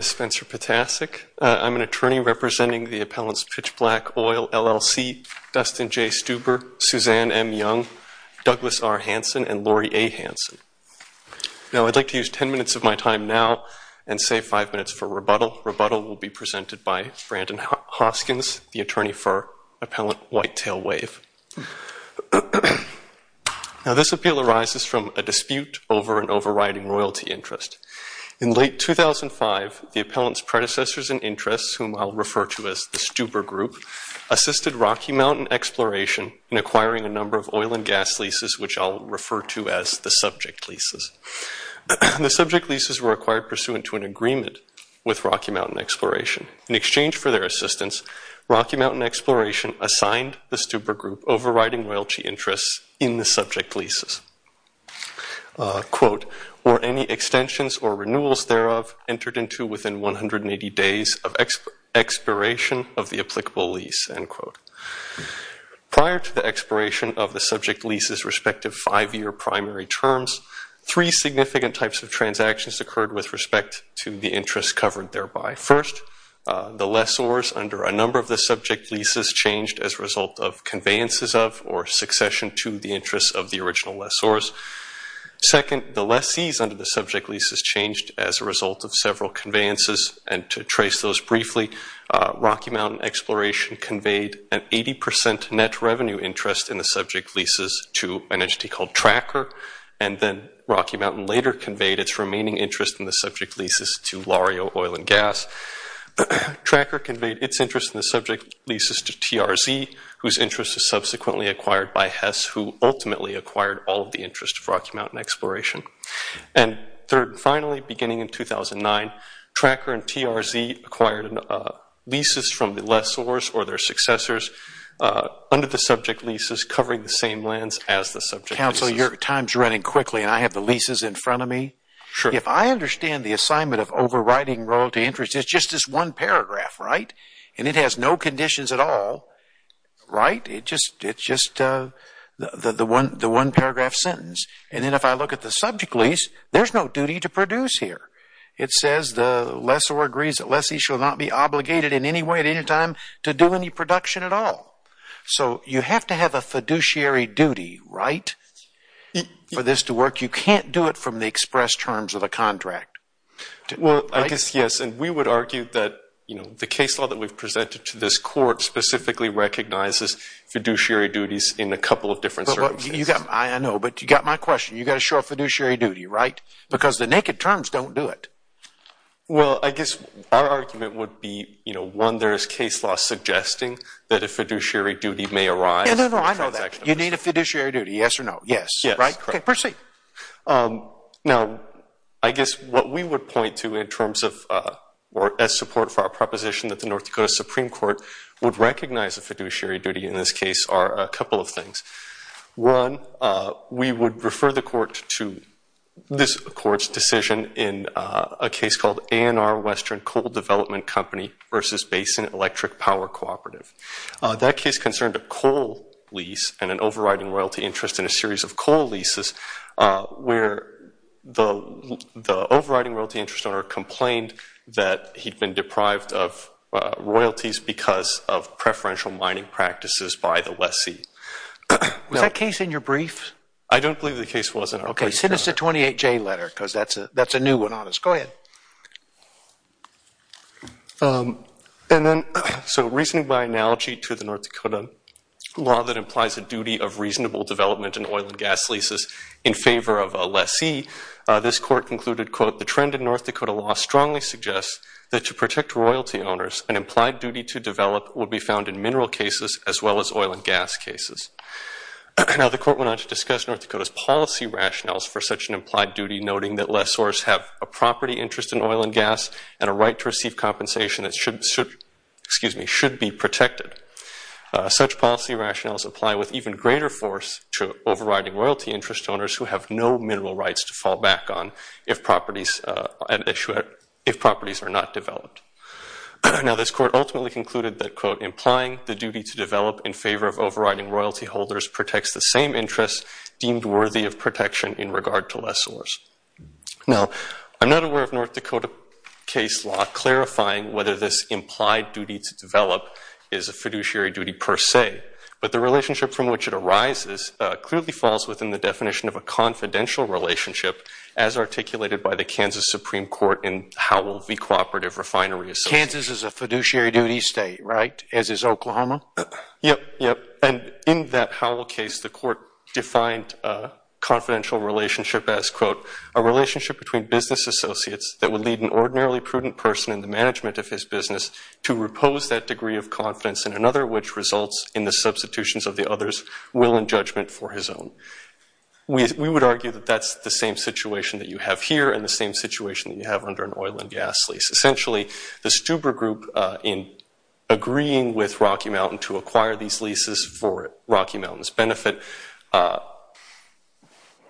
I'm an attorney representing the appellants Pitch Black, Oil, LLC, Dustin J. Stuber, Suzanne M. Young, Douglas R. Hansen, and Laurie A. Hansen. Now, I'd like to use ten minutes of my time now and save five minutes for rebuttal. Rebuttal will be presented by Brandon Hoskins, the attorney for Appellant Whitetail Wave. Now, this appeal arises from a dispute over an overriding royalty interest. In late 2005, the appellant's predecessors and interests, whom I'll refer to as the Stuber Group, assisted Rocky Mountain Exploration in acquiring a number of oil and gas leases, which I'll refer to as the subject leases. The subject leases were acquired pursuant to an agreement with Rocky Mountain Exploration. In exchange for their assistance, Rocky Mountain Exploration assigned the Stuber Group overriding royalty interests in the subject leases. Quote, were any extensions or renewals thereof entered into within 180 days of expiration of the applicable lease? End quote. Prior to the expiration of the subject leases' respective five-year primary terms, three significant types of transactions occurred with respect to the interests covered thereby. First, the lessors under a number of the subject leases changed as a result of conveyances of or succession to the interests of the original lessors. Second, the lessees under the subject leases changed as a result of several conveyances, and to trace those briefly, Rocky Mountain Exploration conveyed an 80% net revenue interest in the subject leases to an entity called Tracker, and then Rocky Mountain later conveyed its remaining interest in the subject leases to Lario Oil and Gas. Tracker conveyed its interest in the subject leases to TRZ, whose interest was subsequently acquired by Hess, who ultimately acquired all of the interest of Rocky Mountain Exploration. And third and finally, beginning in 2009, Tracker and TRZ acquired leases from the lessors or their successors under the subject leases covering the same lands as the subject leases. Counsel, your time is running quickly and I have the leases in front of me. Sure. If I understand the assignment of overriding royalty interest, it's just this one paragraph, right? And it has no conditions at all, right? It's just the one paragraph sentence. And then if I look at the subject lease, there's no duty to produce here. It says the lessor agrees that lessees shall not be obligated in any way at any time to do any production at all. So you have to have a fiduciary duty, right, for this to work. You can't do it from the express terms of the contract. Well, I guess, yes, and we would argue that the case law that we've presented to this court specifically recognizes fiduciary duties in a couple of different circumstances. I know, but you've got my question. You've got to show a fiduciary duty, right? Because the naked terms don't do it. Well, I guess our argument would be, one, there is case law suggesting that a fiduciary duty may arise. No, no, no, I know that. You need a fiduciary duty, yes or no? Yes. Right? Okay, proceed. Now, I guess what we would point to in terms of or as support for our proposition that the North Dakota Supreme Court would recognize a fiduciary duty in this case are a couple of things. One, we would refer the court to this court's decision in a case called A&R Western Coal Development Company versus Basin Electric Power Cooperative. That case concerned a coal lease and an overriding royalty interest in a series of coal leases where the overriding royalty interest owner complained that he'd been deprived of royalties because of preferential mining practices by the lessee. Was that case in your brief? I don't believe the case was in our brief. Okay, send us a 28-J letter because that's a new one on us. Go ahead. And then, so reasoning by analogy to the North Dakota law that implies a duty of reasonable development in oil and gas leases in favor of a lessee, this court concluded, quote, the trend in North Dakota law strongly suggests that to protect royalty owners, an implied duty to develop will be found in mineral cases as well as oil and gas cases. Now, the court went on to discuss North Dakota's policy rationales for such an implied duty, noting that lessors have a property interest in oil and gas and a right to receive compensation that should be protected. Such policy rationales apply with even greater force to overriding royalty interest owners who have no mineral rights to fall back on if properties are not developed. Now, this court ultimately concluded that, quote, implying the duty to develop in favor of overriding royalty holders protects the same interests deemed worthy of protection in regard to lessors. Now, I'm not aware of North Dakota case law clarifying whether this implied duty to develop is a fiduciary duty per se, but the relationship from which it arises clearly falls within the definition of a confidential relationship as articulated by the Kansas Supreme Court in Howell v. Cooperative Refinery Association. Kansas is a fiduciary duty state, right, as is Oklahoma? Yep, yep. And in that Howell case, the court defined confidential relationship as, quote, a relationship between business associates that would lead an ordinarily prudent person in the management of his business to repose that degree of confidence in another which results in the substitutions of the other's will and judgment for his own. We would argue that that's the same situation that you have here and the same situation that you have under an oil and gas lease. Essentially, the Stuber Group, in agreeing with Rocky Mountain to acquire these leases for Rocky Mountain's benefit,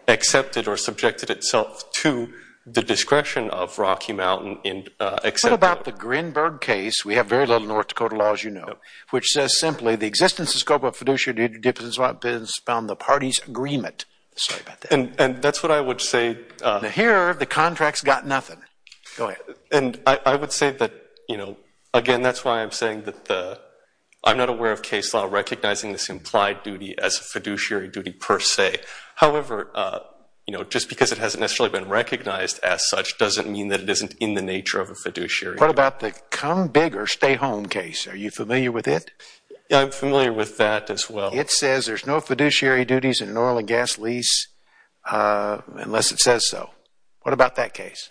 accepted or subjected itself to the discretion of Rocky Mountain. What about the Grinberg case? We have very little North Dakota law, as you know, which says simply, the existence and scope of fiduciary duty depends upon the party's agreement. Sorry about that. And that's what I would say. Here, the contract's got nothing. Go ahead. And I would say that, you know, again, that's why I'm saying that I'm not aware of case law recognizing this implied duty as a fiduciary duty per se. However, you know, just because it hasn't necessarily been recognized as such doesn't mean that it isn't in the nature of a fiduciary duty. What about the Come Big or Stay Home case? Are you familiar with it? I'm familiar with that as well. It says there's no fiduciary duties in an oil and gas lease unless it says so. What about that case?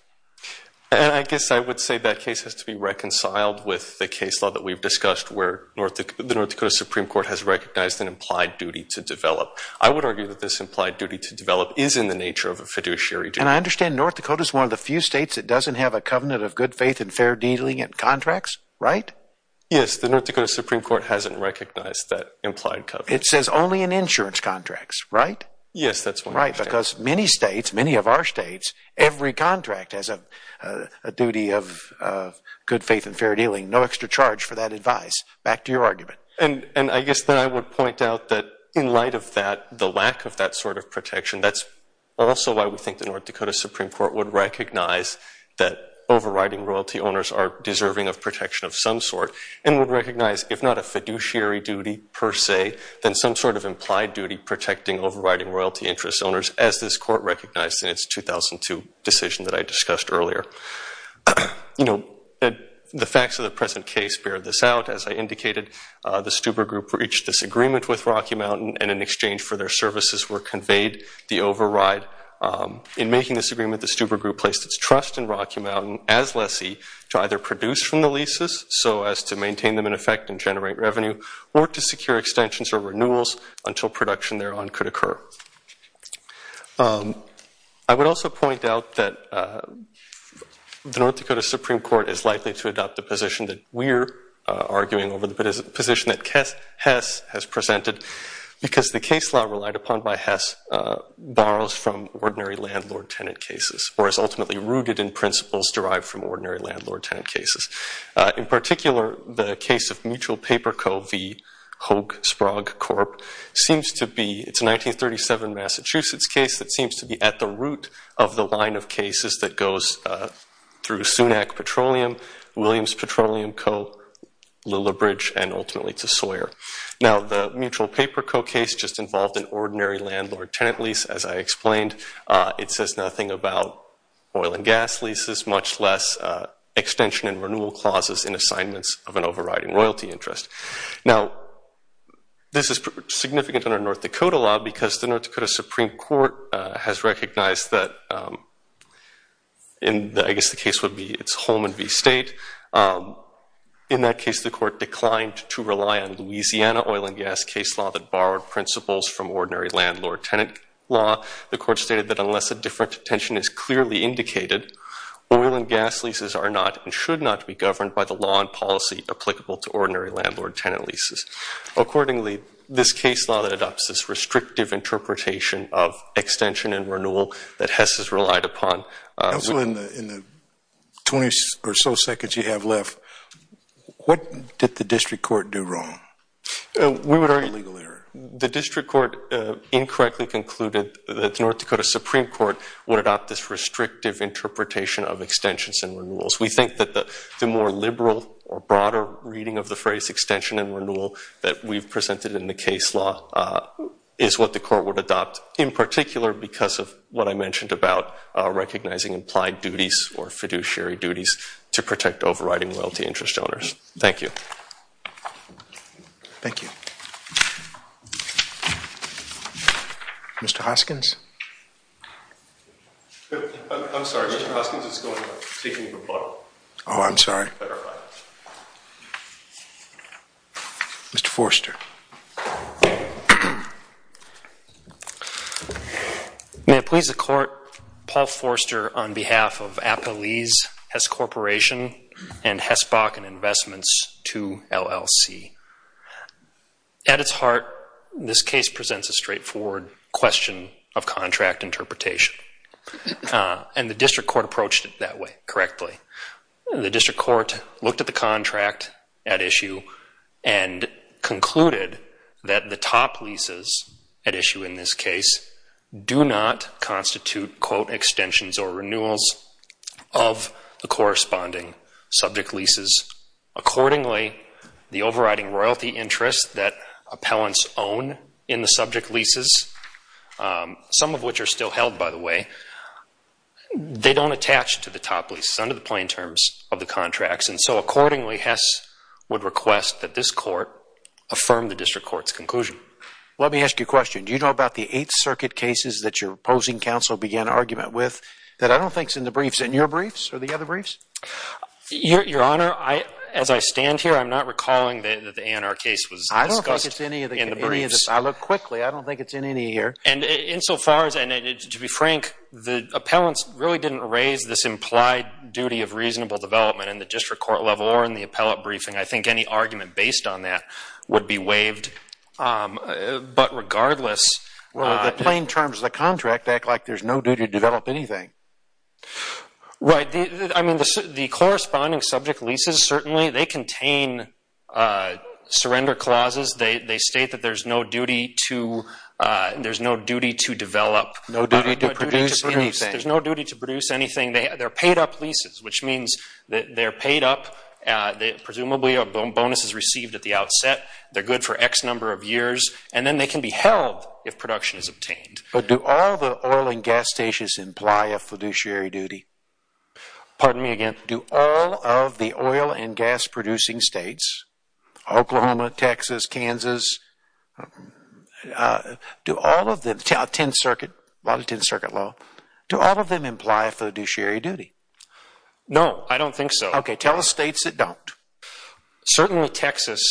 I guess I would say that case has to be reconciled with the case law that we've discussed where the North Dakota Supreme Court has recognized an implied duty to develop. I would argue that this implied duty to develop is in the nature of a fiduciary duty. And I understand North Dakota's one of the few states that doesn't have a covenant of good faith and fair dealing in contracts, right? Yes, the North Dakota Supreme Court hasn't recognized that implied covenant. It says only in insurance contracts, right? Yes, that's what it says. Right, because many states, many of our states, every contract has a duty of good faith and fair dealing, no extra charge for that advice. Back to your argument. And I guess that I would point out that in light of that, the lack of that sort of protection, that's also why we think the North Dakota Supreme Court would recognize that overriding royalty owners are deserving of protection of some sort and would recognize, if not a fiduciary duty per se, then some sort of implied duty protecting overriding royalty interest owners, as this court recognized in its 2002 decision that I discussed earlier. You know, the facts of the present case bear this out. As I indicated, the Stuber Group reached this agreement with Rocky Mountain and in exchange for their services were conveyed the override. In making this agreement, the Stuber Group placed its trust in Rocky Mountain as lessee to either produce from the leases so as to maintain them in effect and generate revenue or to secure extensions or renewals until production thereon could occur. I would also point out that the North Dakota Supreme Court is likely to adopt the position that we're arguing over the position that Hess has presented because the case law relied upon by Hess borrows from ordinary landlord-tenant cases or is ultimately rooted in principles derived from ordinary landlord-tenant cases. In particular, the case of Mutual Paper Co. v. Hoag-Sprog Corp. seems to be, it's a 1937 Massachusetts case that seems to be at the root of the line of cases that goes through Sunak Petroleum, Williams Petroleum Co., Lilla Bridge, and ultimately to Sawyer. Now, the Mutual Paper Co. case just involved an ordinary landlord-tenant lease. As I explained, it says nothing about oil and gas leases, much less extension and renewal clauses in assignments of an overriding royalty interest. Now, this is significant under North Dakota law because the North Dakota Supreme Court has recognized that, and I guess the case would be it's Holman v. State. In that case, the court declined to rely on Louisiana oil and gas case law that borrowed principles from ordinary landlord-tenant law. The court stated that unless a different attention is clearly indicated, oil and gas leases are not and should not be governed by the law and policy applicable to ordinary landlord-tenant leases. Accordingly, this case law that adopts this restrictive interpretation of extension and renewal that Hess has relied upon. Also, in the 20 or so seconds you have left, what did the district court do wrong? The district court incorrectly concluded that the North Dakota Supreme Court would adopt this restrictive interpretation of extensions and renewals. We think that the more liberal or broader reading of the phrase extension and renewal that we've presented in the case law is what the court would adopt, in particular because of what I mentioned about recognizing implied duties or fiduciary duties to protect overriding wealthy interest owners. Thank you. Thank you. Mr. Hoskins? I'm sorry, Mr. Hoskins, it's going to take me a little while. Oh, I'm sorry. Mr. Forster? May it please the court, Paul Forster on behalf of Appalese Hess Corporation and Hess Bakken Investments to LLC. At its heart, this case presents a straightforward question of contract interpretation, and the district court approached it that way, correctly. The district court looked at the contract at issue and concluded that the top leases at issue in this case do not constitute, quote, extensions or renewals of the corresponding subject leases. Accordingly, the overriding royalty interest that appellants own in the subject leases, some of which are still held, by the way, they don't attach to the top leases. It's under the plain terms of the contracts, and so accordingly Hess would request that this court affirm the district court's conclusion. Let me ask you a question. Do you know about the Eighth Circuit cases that your opposing counsel began an argument with that I don't think is in the briefs, in your briefs or the other briefs? Your Honor, as I stand here, I'm not recalling that the ANR case was discussed in the briefs. I don't think it's in any of the briefs. I looked quickly. I don't think it's in any here. And insofar as, and to be frank, the appellants really didn't raise this implied duty of reasonable development in the district court level or in the appellate briefing. I think any argument based on that would be waived. But regardless, The plain terms of the contract act like there's no duty to develop anything. Right. I mean, the corresponding subject leases certainly, they contain surrender clauses. They state that there's no duty to develop. No duty to produce anything. There's no duty to produce anything. They're paid up leases, which means that they're paid up. Presumably a bonus is received at the outset. They're good for X number of years. And then they can be held if production is obtained. But do all the oil and gas stations imply a fiduciary duty? Pardon me again. Do all of the oil and gas producing states, Oklahoma, Texas, Kansas, do all of them, 10th Circuit, lot of 10th Circuit law, do all of them imply a fiduciary duty? No, I don't think so. Okay, tell the states that don't. Certainly Texas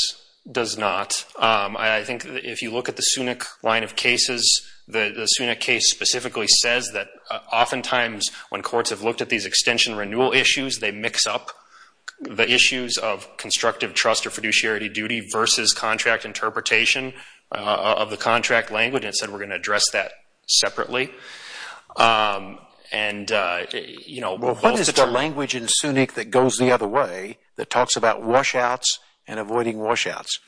does not. I think if you look at the SUNIC line of cases, the SUNIC case specifically says that oftentimes when courts have looked at these extension renewal issues, they mix up the issues of constructive trust or fiduciary duty versus contract interpretation of the contract language, and it said we're going to address that separately. Well, what is the language in SUNIC that goes the other way, that talks about washouts and avoiding washouts?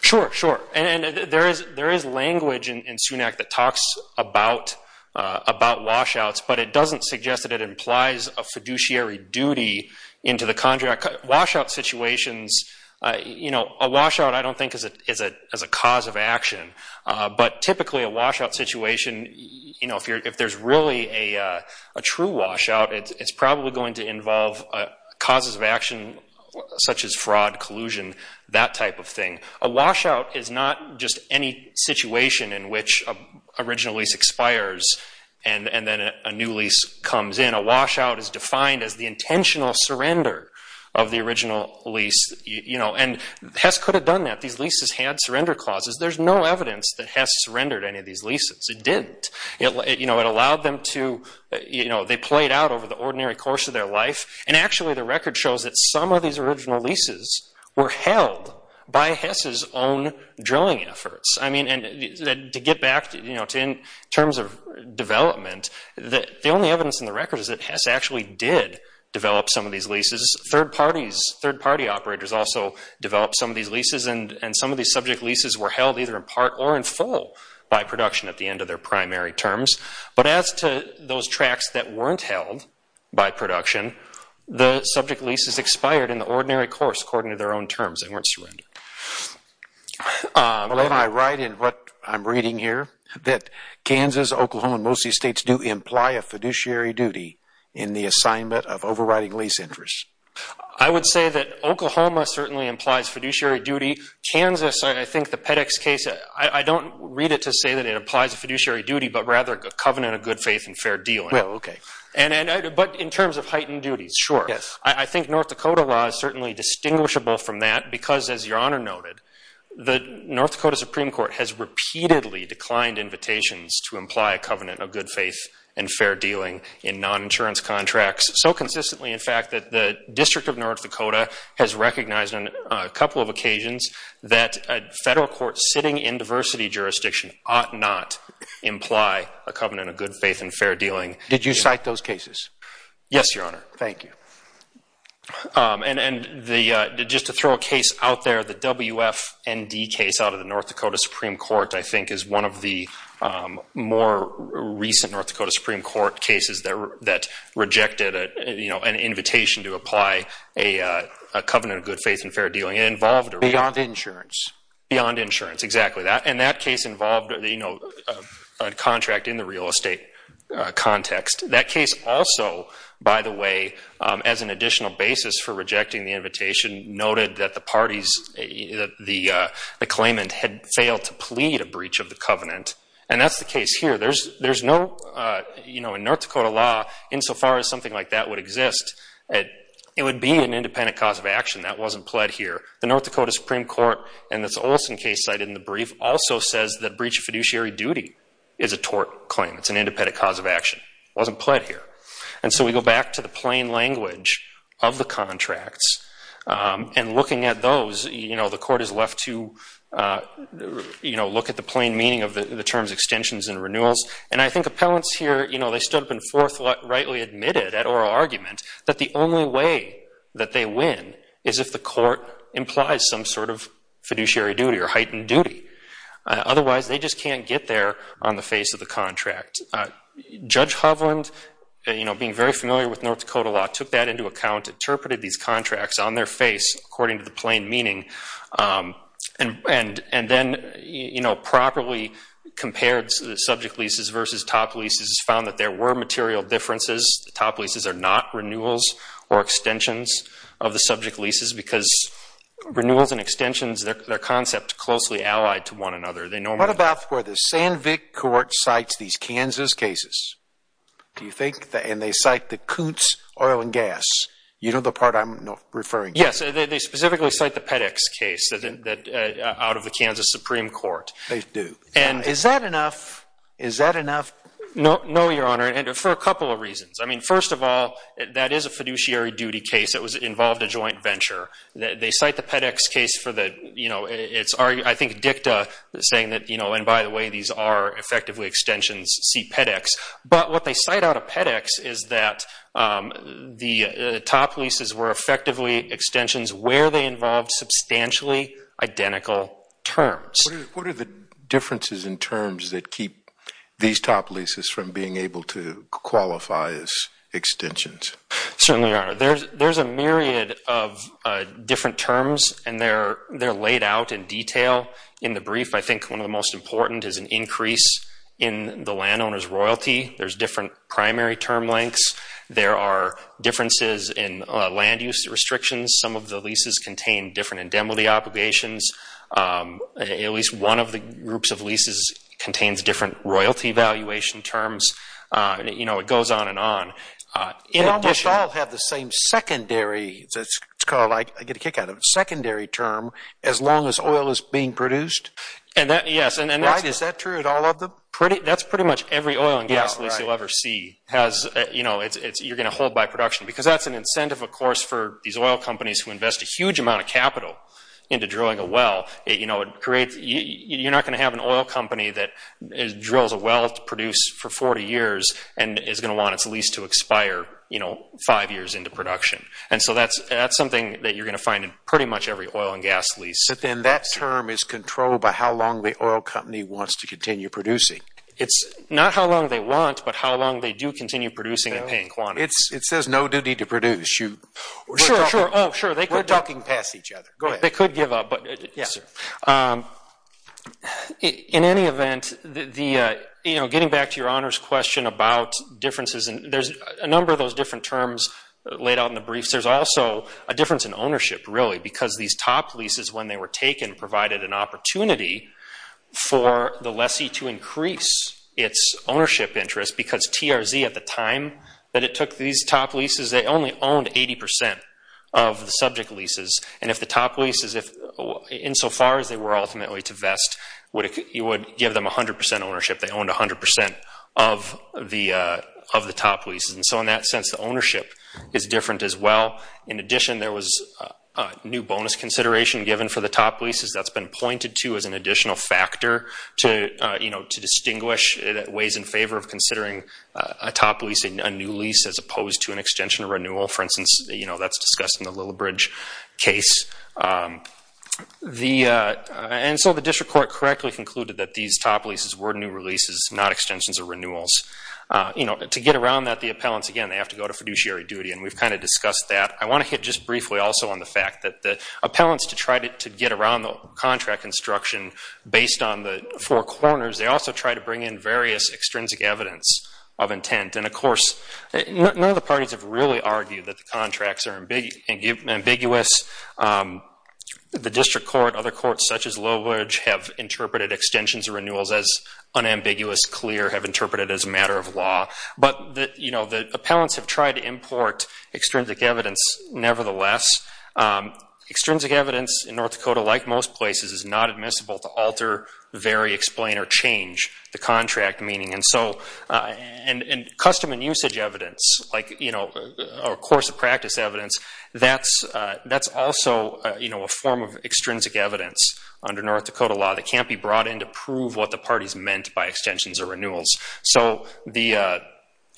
Sure, sure. And there is language in SUNAC that talks about washouts, but it doesn't suggest that it implies a fiduciary duty into the contract. Washout situations, you know, a washout I don't think is a cause of action, but typically a washout situation, you know, if there's really a true washout, it's probably going to involve causes of action such as fraud, collusion, that type of thing. A washout is not just any situation in which a original lease expires and then a new lease comes in. A washout is defined as the intentional surrender of the original lease, you know, and Hess could have done that. These leases had surrender clauses. There's no evidence that Hess surrendered any of these leases. It didn't. You know, it allowed them to, you know, they played out over the ordinary course of their life, and actually the record shows that some of these original leases were held by Hess's own drilling efforts. To get back, you know, in terms of development, the only evidence in the record is that Hess actually did develop some of these leases. Third parties, third party operators also developed some of these leases, and some of these subject leases were held either in part or in full by production at the end of their primary terms. But as to those tracts that weren't held by production, the subject leases expired in the ordinary course according to their own terms. They weren't surrendered. Well, am I right in what I'm reading here, that Kansas, Oklahoma, and most of these states do imply a fiduciary duty in the assignment of overriding lease interest? I would say that Oklahoma certainly implies fiduciary duty. Kansas, I think the PEDEX case, I don't read it to say that it implies a fiduciary duty, but rather a covenant of good faith and fair deal. Well, okay. But in terms of heightened duties. Sure. Yes. I think North Dakota law is certainly distinguishable from that because, as Your Honor noted, the North Dakota Supreme Court has repeatedly declined invitations to imply a covenant of good faith and fair dealing in non-insurance contracts. So consistently, in fact, that the District of North Dakota has recognized on a couple of occasions that a federal court sitting in diversity jurisdiction ought not imply a covenant of good faith and fair dealing. Did you cite those cases? Yes, Your Honor. Thank you. And just to throw a case out there, the WFND case out of the North Dakota Supreme Court I think is one of the more recent North Dakota Supreme Court cases that rejected an invitation to apply a covenant of good faith and fair dealing. It involved a- Beyond insurance. Beyond insurance. Exactly. And that case involved a contract in the real estate context. That case also, by the way, as an additional basis for rejecting the invitation, noted that the parties, the claimant had failed to plead a breach of the covenant. And that's the case here. There's no, you know, in North Dakota law, insofar as something like that would exist, it would be an independent cause of action. That wasn't pled here. The North Dakota Supreme Court in this Olson case cited in the brief also says that breach of fiduciary duty is a tort claim. It's an independent cause of action. It wasn't pled here. And so we go back to the plain language of the contracts and looking at those, you know, the court is left to, you know, look at the plain meaning of the terms extensions and renewals. And I think appellants here, you know, they stood up and forth rightly admitted at oral argument that the only way that they win is if the court implies some sort of fiduciary duty or heightened duty. Otherwise, they just can't get there on the face of the contract. Judge Hovland, you know, being very familiar with North Dakota law, took that into account, interpreted these contracts on their face according to the plain meaning, and then, you know, properly compared subject leases versus top leases, found that there were material differences. Top leases are not renewals or extensions of the subject leases because renewals and extensions, they're concepts closely allied to one another. What about where the Sandvik court cites these Kansas cases? Do you think, and they cite the Koontz oil and gas? You know the part I'm referring to. Yes, they specifically cite the Pedex case out of the Kansas Supreme Court. They do. And is that enough? Is that enough? No, Your Honor, and for a couple of reasons. I mean, first of all, that is a fiduciary duty case. It involved a joint venture. They cite the Pedex case for the, you know, it's, I think, dicta saying that, you know, and by the way, these are effectively extensions, see Pedex. But what they cite out of Pedex is that the top leases were effectively extensions where they involved substantially identical terms. What are the differences in terms that keep these top leases from being able to qualify as extensions? Certainly, Your Honor, there's a myriad of different terms, and they're laid out in detail in the brief. I think one of the most important is an increase in the landowner's royalty. There's different primary term lengths. There are differences in land use restrictions. Some of the leases contain different indemnity obligations. At least one of the groups of leases contains different royalty valuation terms. You know, it goes on and on. They almost all have the same secondary, it's called, I get a kick out of it, secondary term as long as oil is being produced. Yes. Right? Is that true at all of them? That's pretty much every oil and gas lease you'll ever see. You know, you're going to hold by production because that's an incentive, of course, for these oil companies who invest a huge amount of capital into drilling a well. You know, you're not going to have an oil company that drills a well to produce for 40 years and is going to want its lease to expire, you know, five years into production. And so that's something that you're going to find in pretty much every oil and gas lease. But then that term is controlled by how long the oil company wants to continue producing. It's not how long they want, but how long they do continue producing and paying quantities. It says no duty to produce. Sure, sure. We're talking past each other. Go ahead. They could give up. In any event, you know, getting back to your honors question about differences, there's a number of those different terms laid out in the briefs. There's also a difference in ownership, really, because these top leases, when they were taken, provided an opportunity for the lessee to increase its ownership interest because TRZ at the time that it took these top leases, they only owned 80% of the subject leases. And if the top leases, insofar as they were ultimately to vest, you would give them 100% ownership. They owned 100% of the top leases. And so in that sense, the ownership is different as well. In addition, there was new bonus consideration given for the top leases. That's been pointed to as an additional factor to, you know, to distinguish ways in favor of considering a top lease, a new lease as opposed to an extension or renewal. For instance, you know, that's discussed in the Lillibridge case. And so the district court correctly concluded that these top leases were new releases, not extensions or renewals. You know, to get around that, the appellants, again, they have to go to fiduciary duty, and we've kind of discussed that. I want to hit just briefly also on the fact that the appellants to try to get around the contract instruction based on the four corners, they also try to bring in various extrinsic evidence of intent. And, of course, none of the parties have really argued that the contracts are ambiguous. The district court, other courts such as Lillibridge, have interpreted extensions or renewals as unambiguous, clear, have interpreted as a matter of law. But, you know, the appellants have tried to import extrinsic evidence nevertheless. Extrinsic evidence in North Dakota, like most places, is not admissible to alter, vary, explain, or change the contract meaning. And so custom and usage evidence, like, you know, or course of practice evidence, that's also, you know, a form of extrinsic evidence under North Dakota law that can't be brought in to prove what the parties meant by extensions or renewals. So the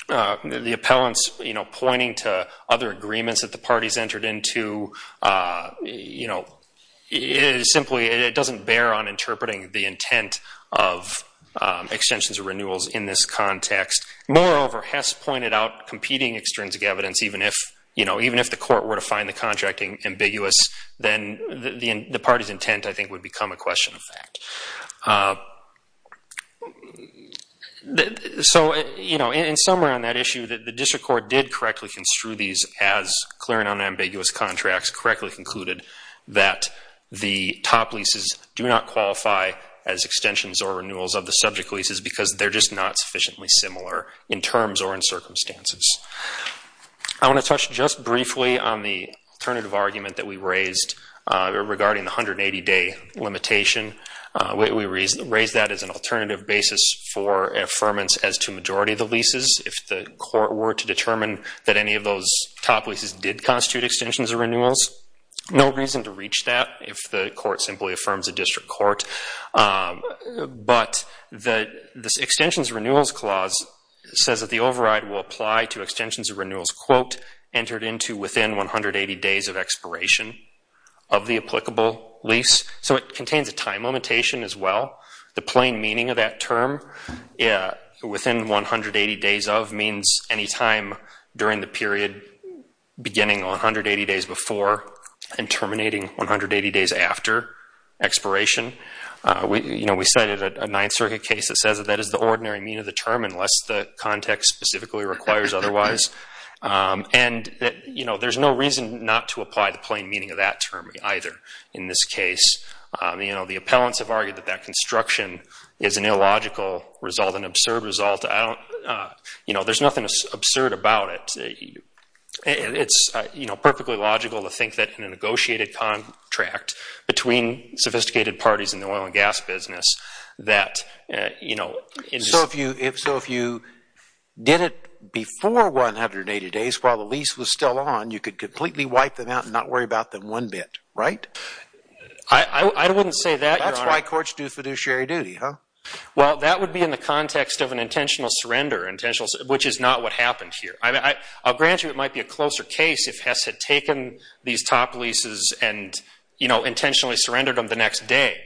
appellants, you know, pointing to other agreements that the parties entered into, you know, simply it doesn't bear on interpreting the intent of extensions or renewals in this context. Moreover, Hess pointed out competing extrinsic evidence, even if, you know, even if the court were to find the contracting ambiguous, then the party's intent, I think, would become a question of fact. So, you know, in summary on that issue, the district court did correctly construe these as clear and unambiguous contracts, correctly concluded that the top leases do not qualify as extensions or renewals of the subject leases because they're just not sufficiently similar in terms or in circumstances. I want to touch just briefly on the alternative argument that we raised regarding the 180-day limitation. We raised that as an alternative basis for affirmance as to majority of the leases. If the court were to determine that any of those top leases did constitute extensions or renewals, no reason to reach that if the court simply affirms a district court. But the extensions renewals clause says that the override will apply to extensions or renewals, quote, entered into within 180 days of expiration of the applicable lease. So it contains a time limitation as well. The plain meaning of that term, within 180 days of, means any time during the period beginning 180 days before and terminating 180 days after expiration. You know, we cited a Ninth Circuit case that says that that is the ordinary meaning of the term unless the context specifically requires otherwise. And, you know, there's no reason not to apply the plain meaning of that term either in this case. You know, the appellants have argued that that construction is an illogical result, an absurd result. I don't, you know, there's nothing absurd about it. It's, you know, perfectly logical to think that in a negotiated contract between sophisticated parties in the oil and gas business that, you know, So if you did it before 180 days while the lease was still on, you could completely wipe them out and not worry about them one bit, right? I wouldn't say that, Your Honor. That's why courts do fiduciary duty, huh? Well, that would be in the context of an intentional surrender, which is not what happened here. I'll grant you it might be a closer case if Hess had taken these top leases and, you know, intentionally surrendered them the next day.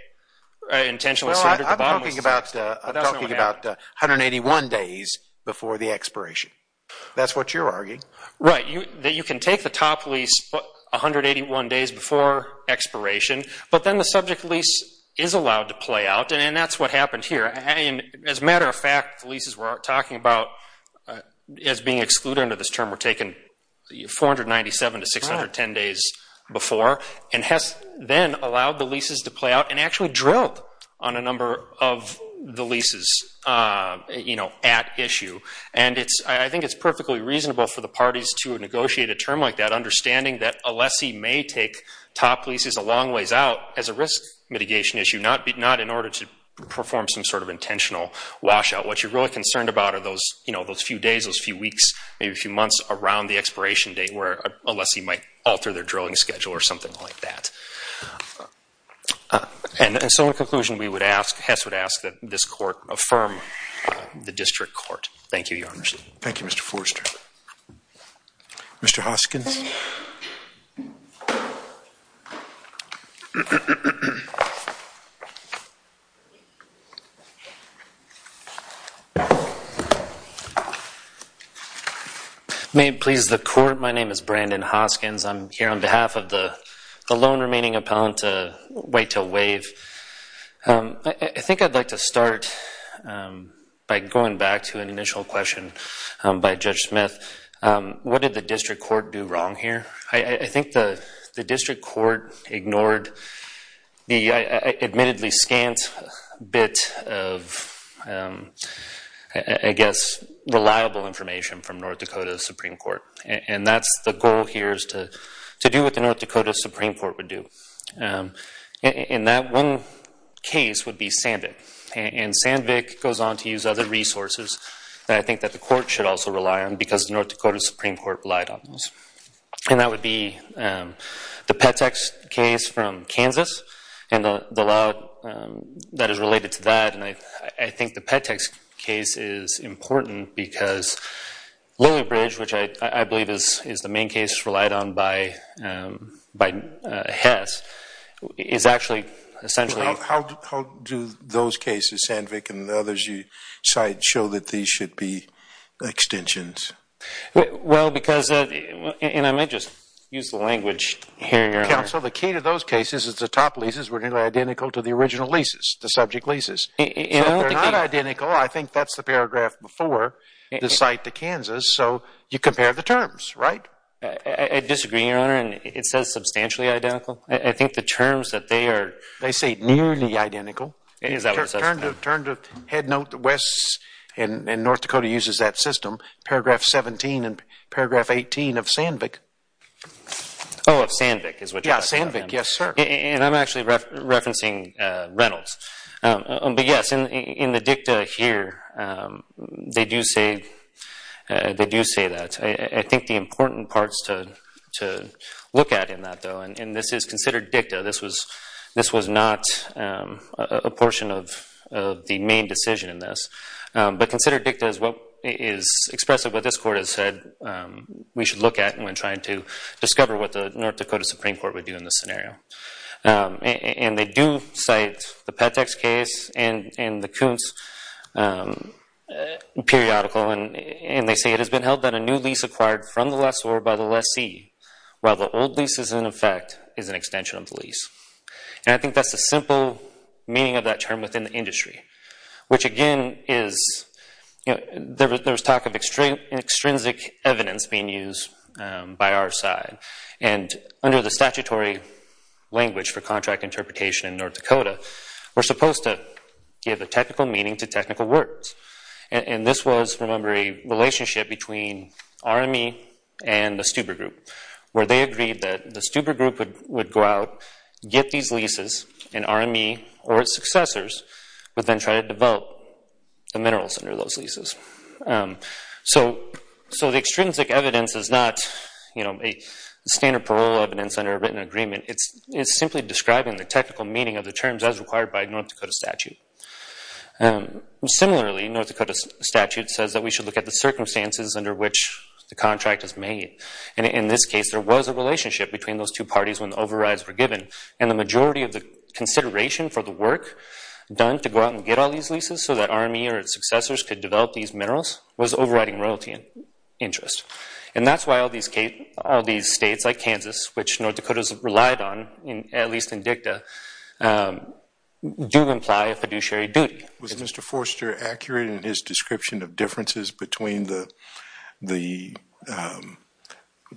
Well, I'm talking about 181 days before the expiration. That's what you're arguing. Right. You can take the top lease 181 days before expiration, but then the subject lease is allowed to play out, and that's what happened here. As a matter of fact, the leases we're talking about as being excluded under this term were taken 497 to 610 days before, and Hess then allowed the leases to play out and actually drilled on a number of the leases, you know, at issue. And I think it's perfectly reasonable for the parties to negotiate a term like that, understanding that a lessee may take top leases a long ways out as a risk mitigation issue, not in order to perform some sort of intentional washout. What you're really concerned about are those, you know, those few days, those few weeks, maybe a few months around the expiration date where a lessee might alter their drilling schedule or something like that. And so in conclusion, we would ask, Hess would ask that this court affirm the district court. Thank you, Your Honor. Thank you, Mr. Forrester. Mr. Hoskins. May it please the court. My name is Brandon Hoskins. I'm here on behalf of the lone remaining appellant to wait to waive. I think I'd like to start by going back to an initial question by Judge Smith. What did the district court do wrong? I think the district court ignored the admittedly scant bit of, I guess, reliable information from North Dakota Supreme Court. And that's the goal here is to do what the North Dakota Supreme Court would do. And that one case would be Sandvik. And Sandvik goes on to use other resources that I think that the court should also rely on because the North Dakota Supreme Court relied on those. And that would be the Pettex case from Kansas and the law that is related to that. And I think the Pettex case is important because Lily Bridge, which I believe is the main case relied on by Hess, is actually essentially. How do those cases, Sandvik and the others you cite, show that these should be extensions? Well, because, and I might just use the language here, Your Honor. Counsel, the key to those cases is the top leases were identical to the original leases, the subject leases. So if they're not identical, I think that's the paragraph before the site to Kansas. So you compare the terms, right? I disagree, Your Honor, and it says substantially identical. I think the terms that they are. They say nearly identical. Turn to Headnote West, and North Dakota uses that system, paragraph 17 and paragraph 18 of Sandvik. Oh, of Sandvik is what you're talking about. Yeah, Sandvik, yes, sir. And I'm actually referencing Reynolds. But, yes, in the dicta here, they do say that. I think the important parts to look at in that, though, and this is considered dicta. This was not a portion of the main decision in this. But considered dicta is what is expressed in what this Court has said we should look at when trying to discover what the North Dakota Supreme Court would do in this scenario. And they do cite the Pettex case and the Kuntz periodical, and they say it has been held that a new lease acquired from the lessor by the lessee, while the old lease is in effect, is an extension of the lease. And I think that's the simple meaning of that term within the industry, which, again, there's talk of extrinsic evidence being used by our side. And under the statutory language for contract interpretation in North Dakota, we're supposed to give a technical meaning to technical words. And this was, remember, a relationship between RME and the Stuber Group, where they agreed that the Stuber Group would go out, get these leases, and RME or its successors would then try to develop the minerals under those leases. So the extrinsic evidence is not standard parole evidence under a written agreement. It's simply describing the technical meaning of the terms as required by a North Dakota statute. Similarly, a North Dakota statute says that we should look at the circumstances under which the contract is made. And in this case, there was a relationship between those two parties when the overrides were given. And the majority of the consideration for the work done to go out and get all these leases so that RME or its successors could develop these minerals was overriding royalty interest. And that's why all these states like Kansas, which North Dakotas relied on, at least in DICTA, do imply a fiduciary duty. Was Mr. Forster accurate in his description of differences between the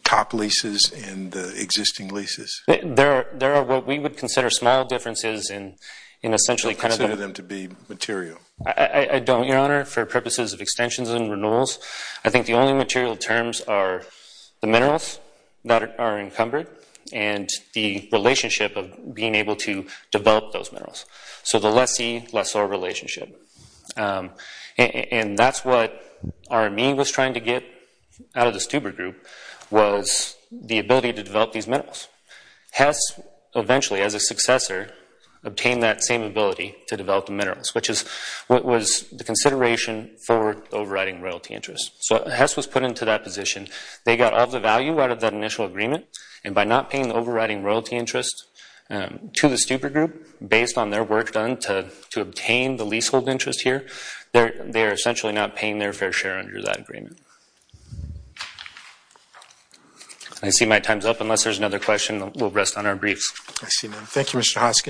top leases and the existing leases? There are what we would consider small differences in essentially kind of the- You consider them to be material. I don't, Your Honor, for purposes of extensions and renewals. I think the only material terms are the minerals that are encumbered and the relationship of being able to develop those minerals. So the lessee, lessor relationship. And that's what RME was trying to get out of the Stuber Group was the ability to develop these minerals. Hess eventually, as a successor, obtained that same ability to develop the minerals, which was the consideration for overriding royalty interest. So Hess was put into that position. They got all the value out of that initial agreement. And by not paying the overriding royalty interest to the Stuber Group, based on their work done to obtain the leasehold interest here, they are essentially not paying their fair share under that agreement. I see my time's up. Unless there's another question, we'll rest on our briefs. I see none. Thank you, Mr. Hoskin.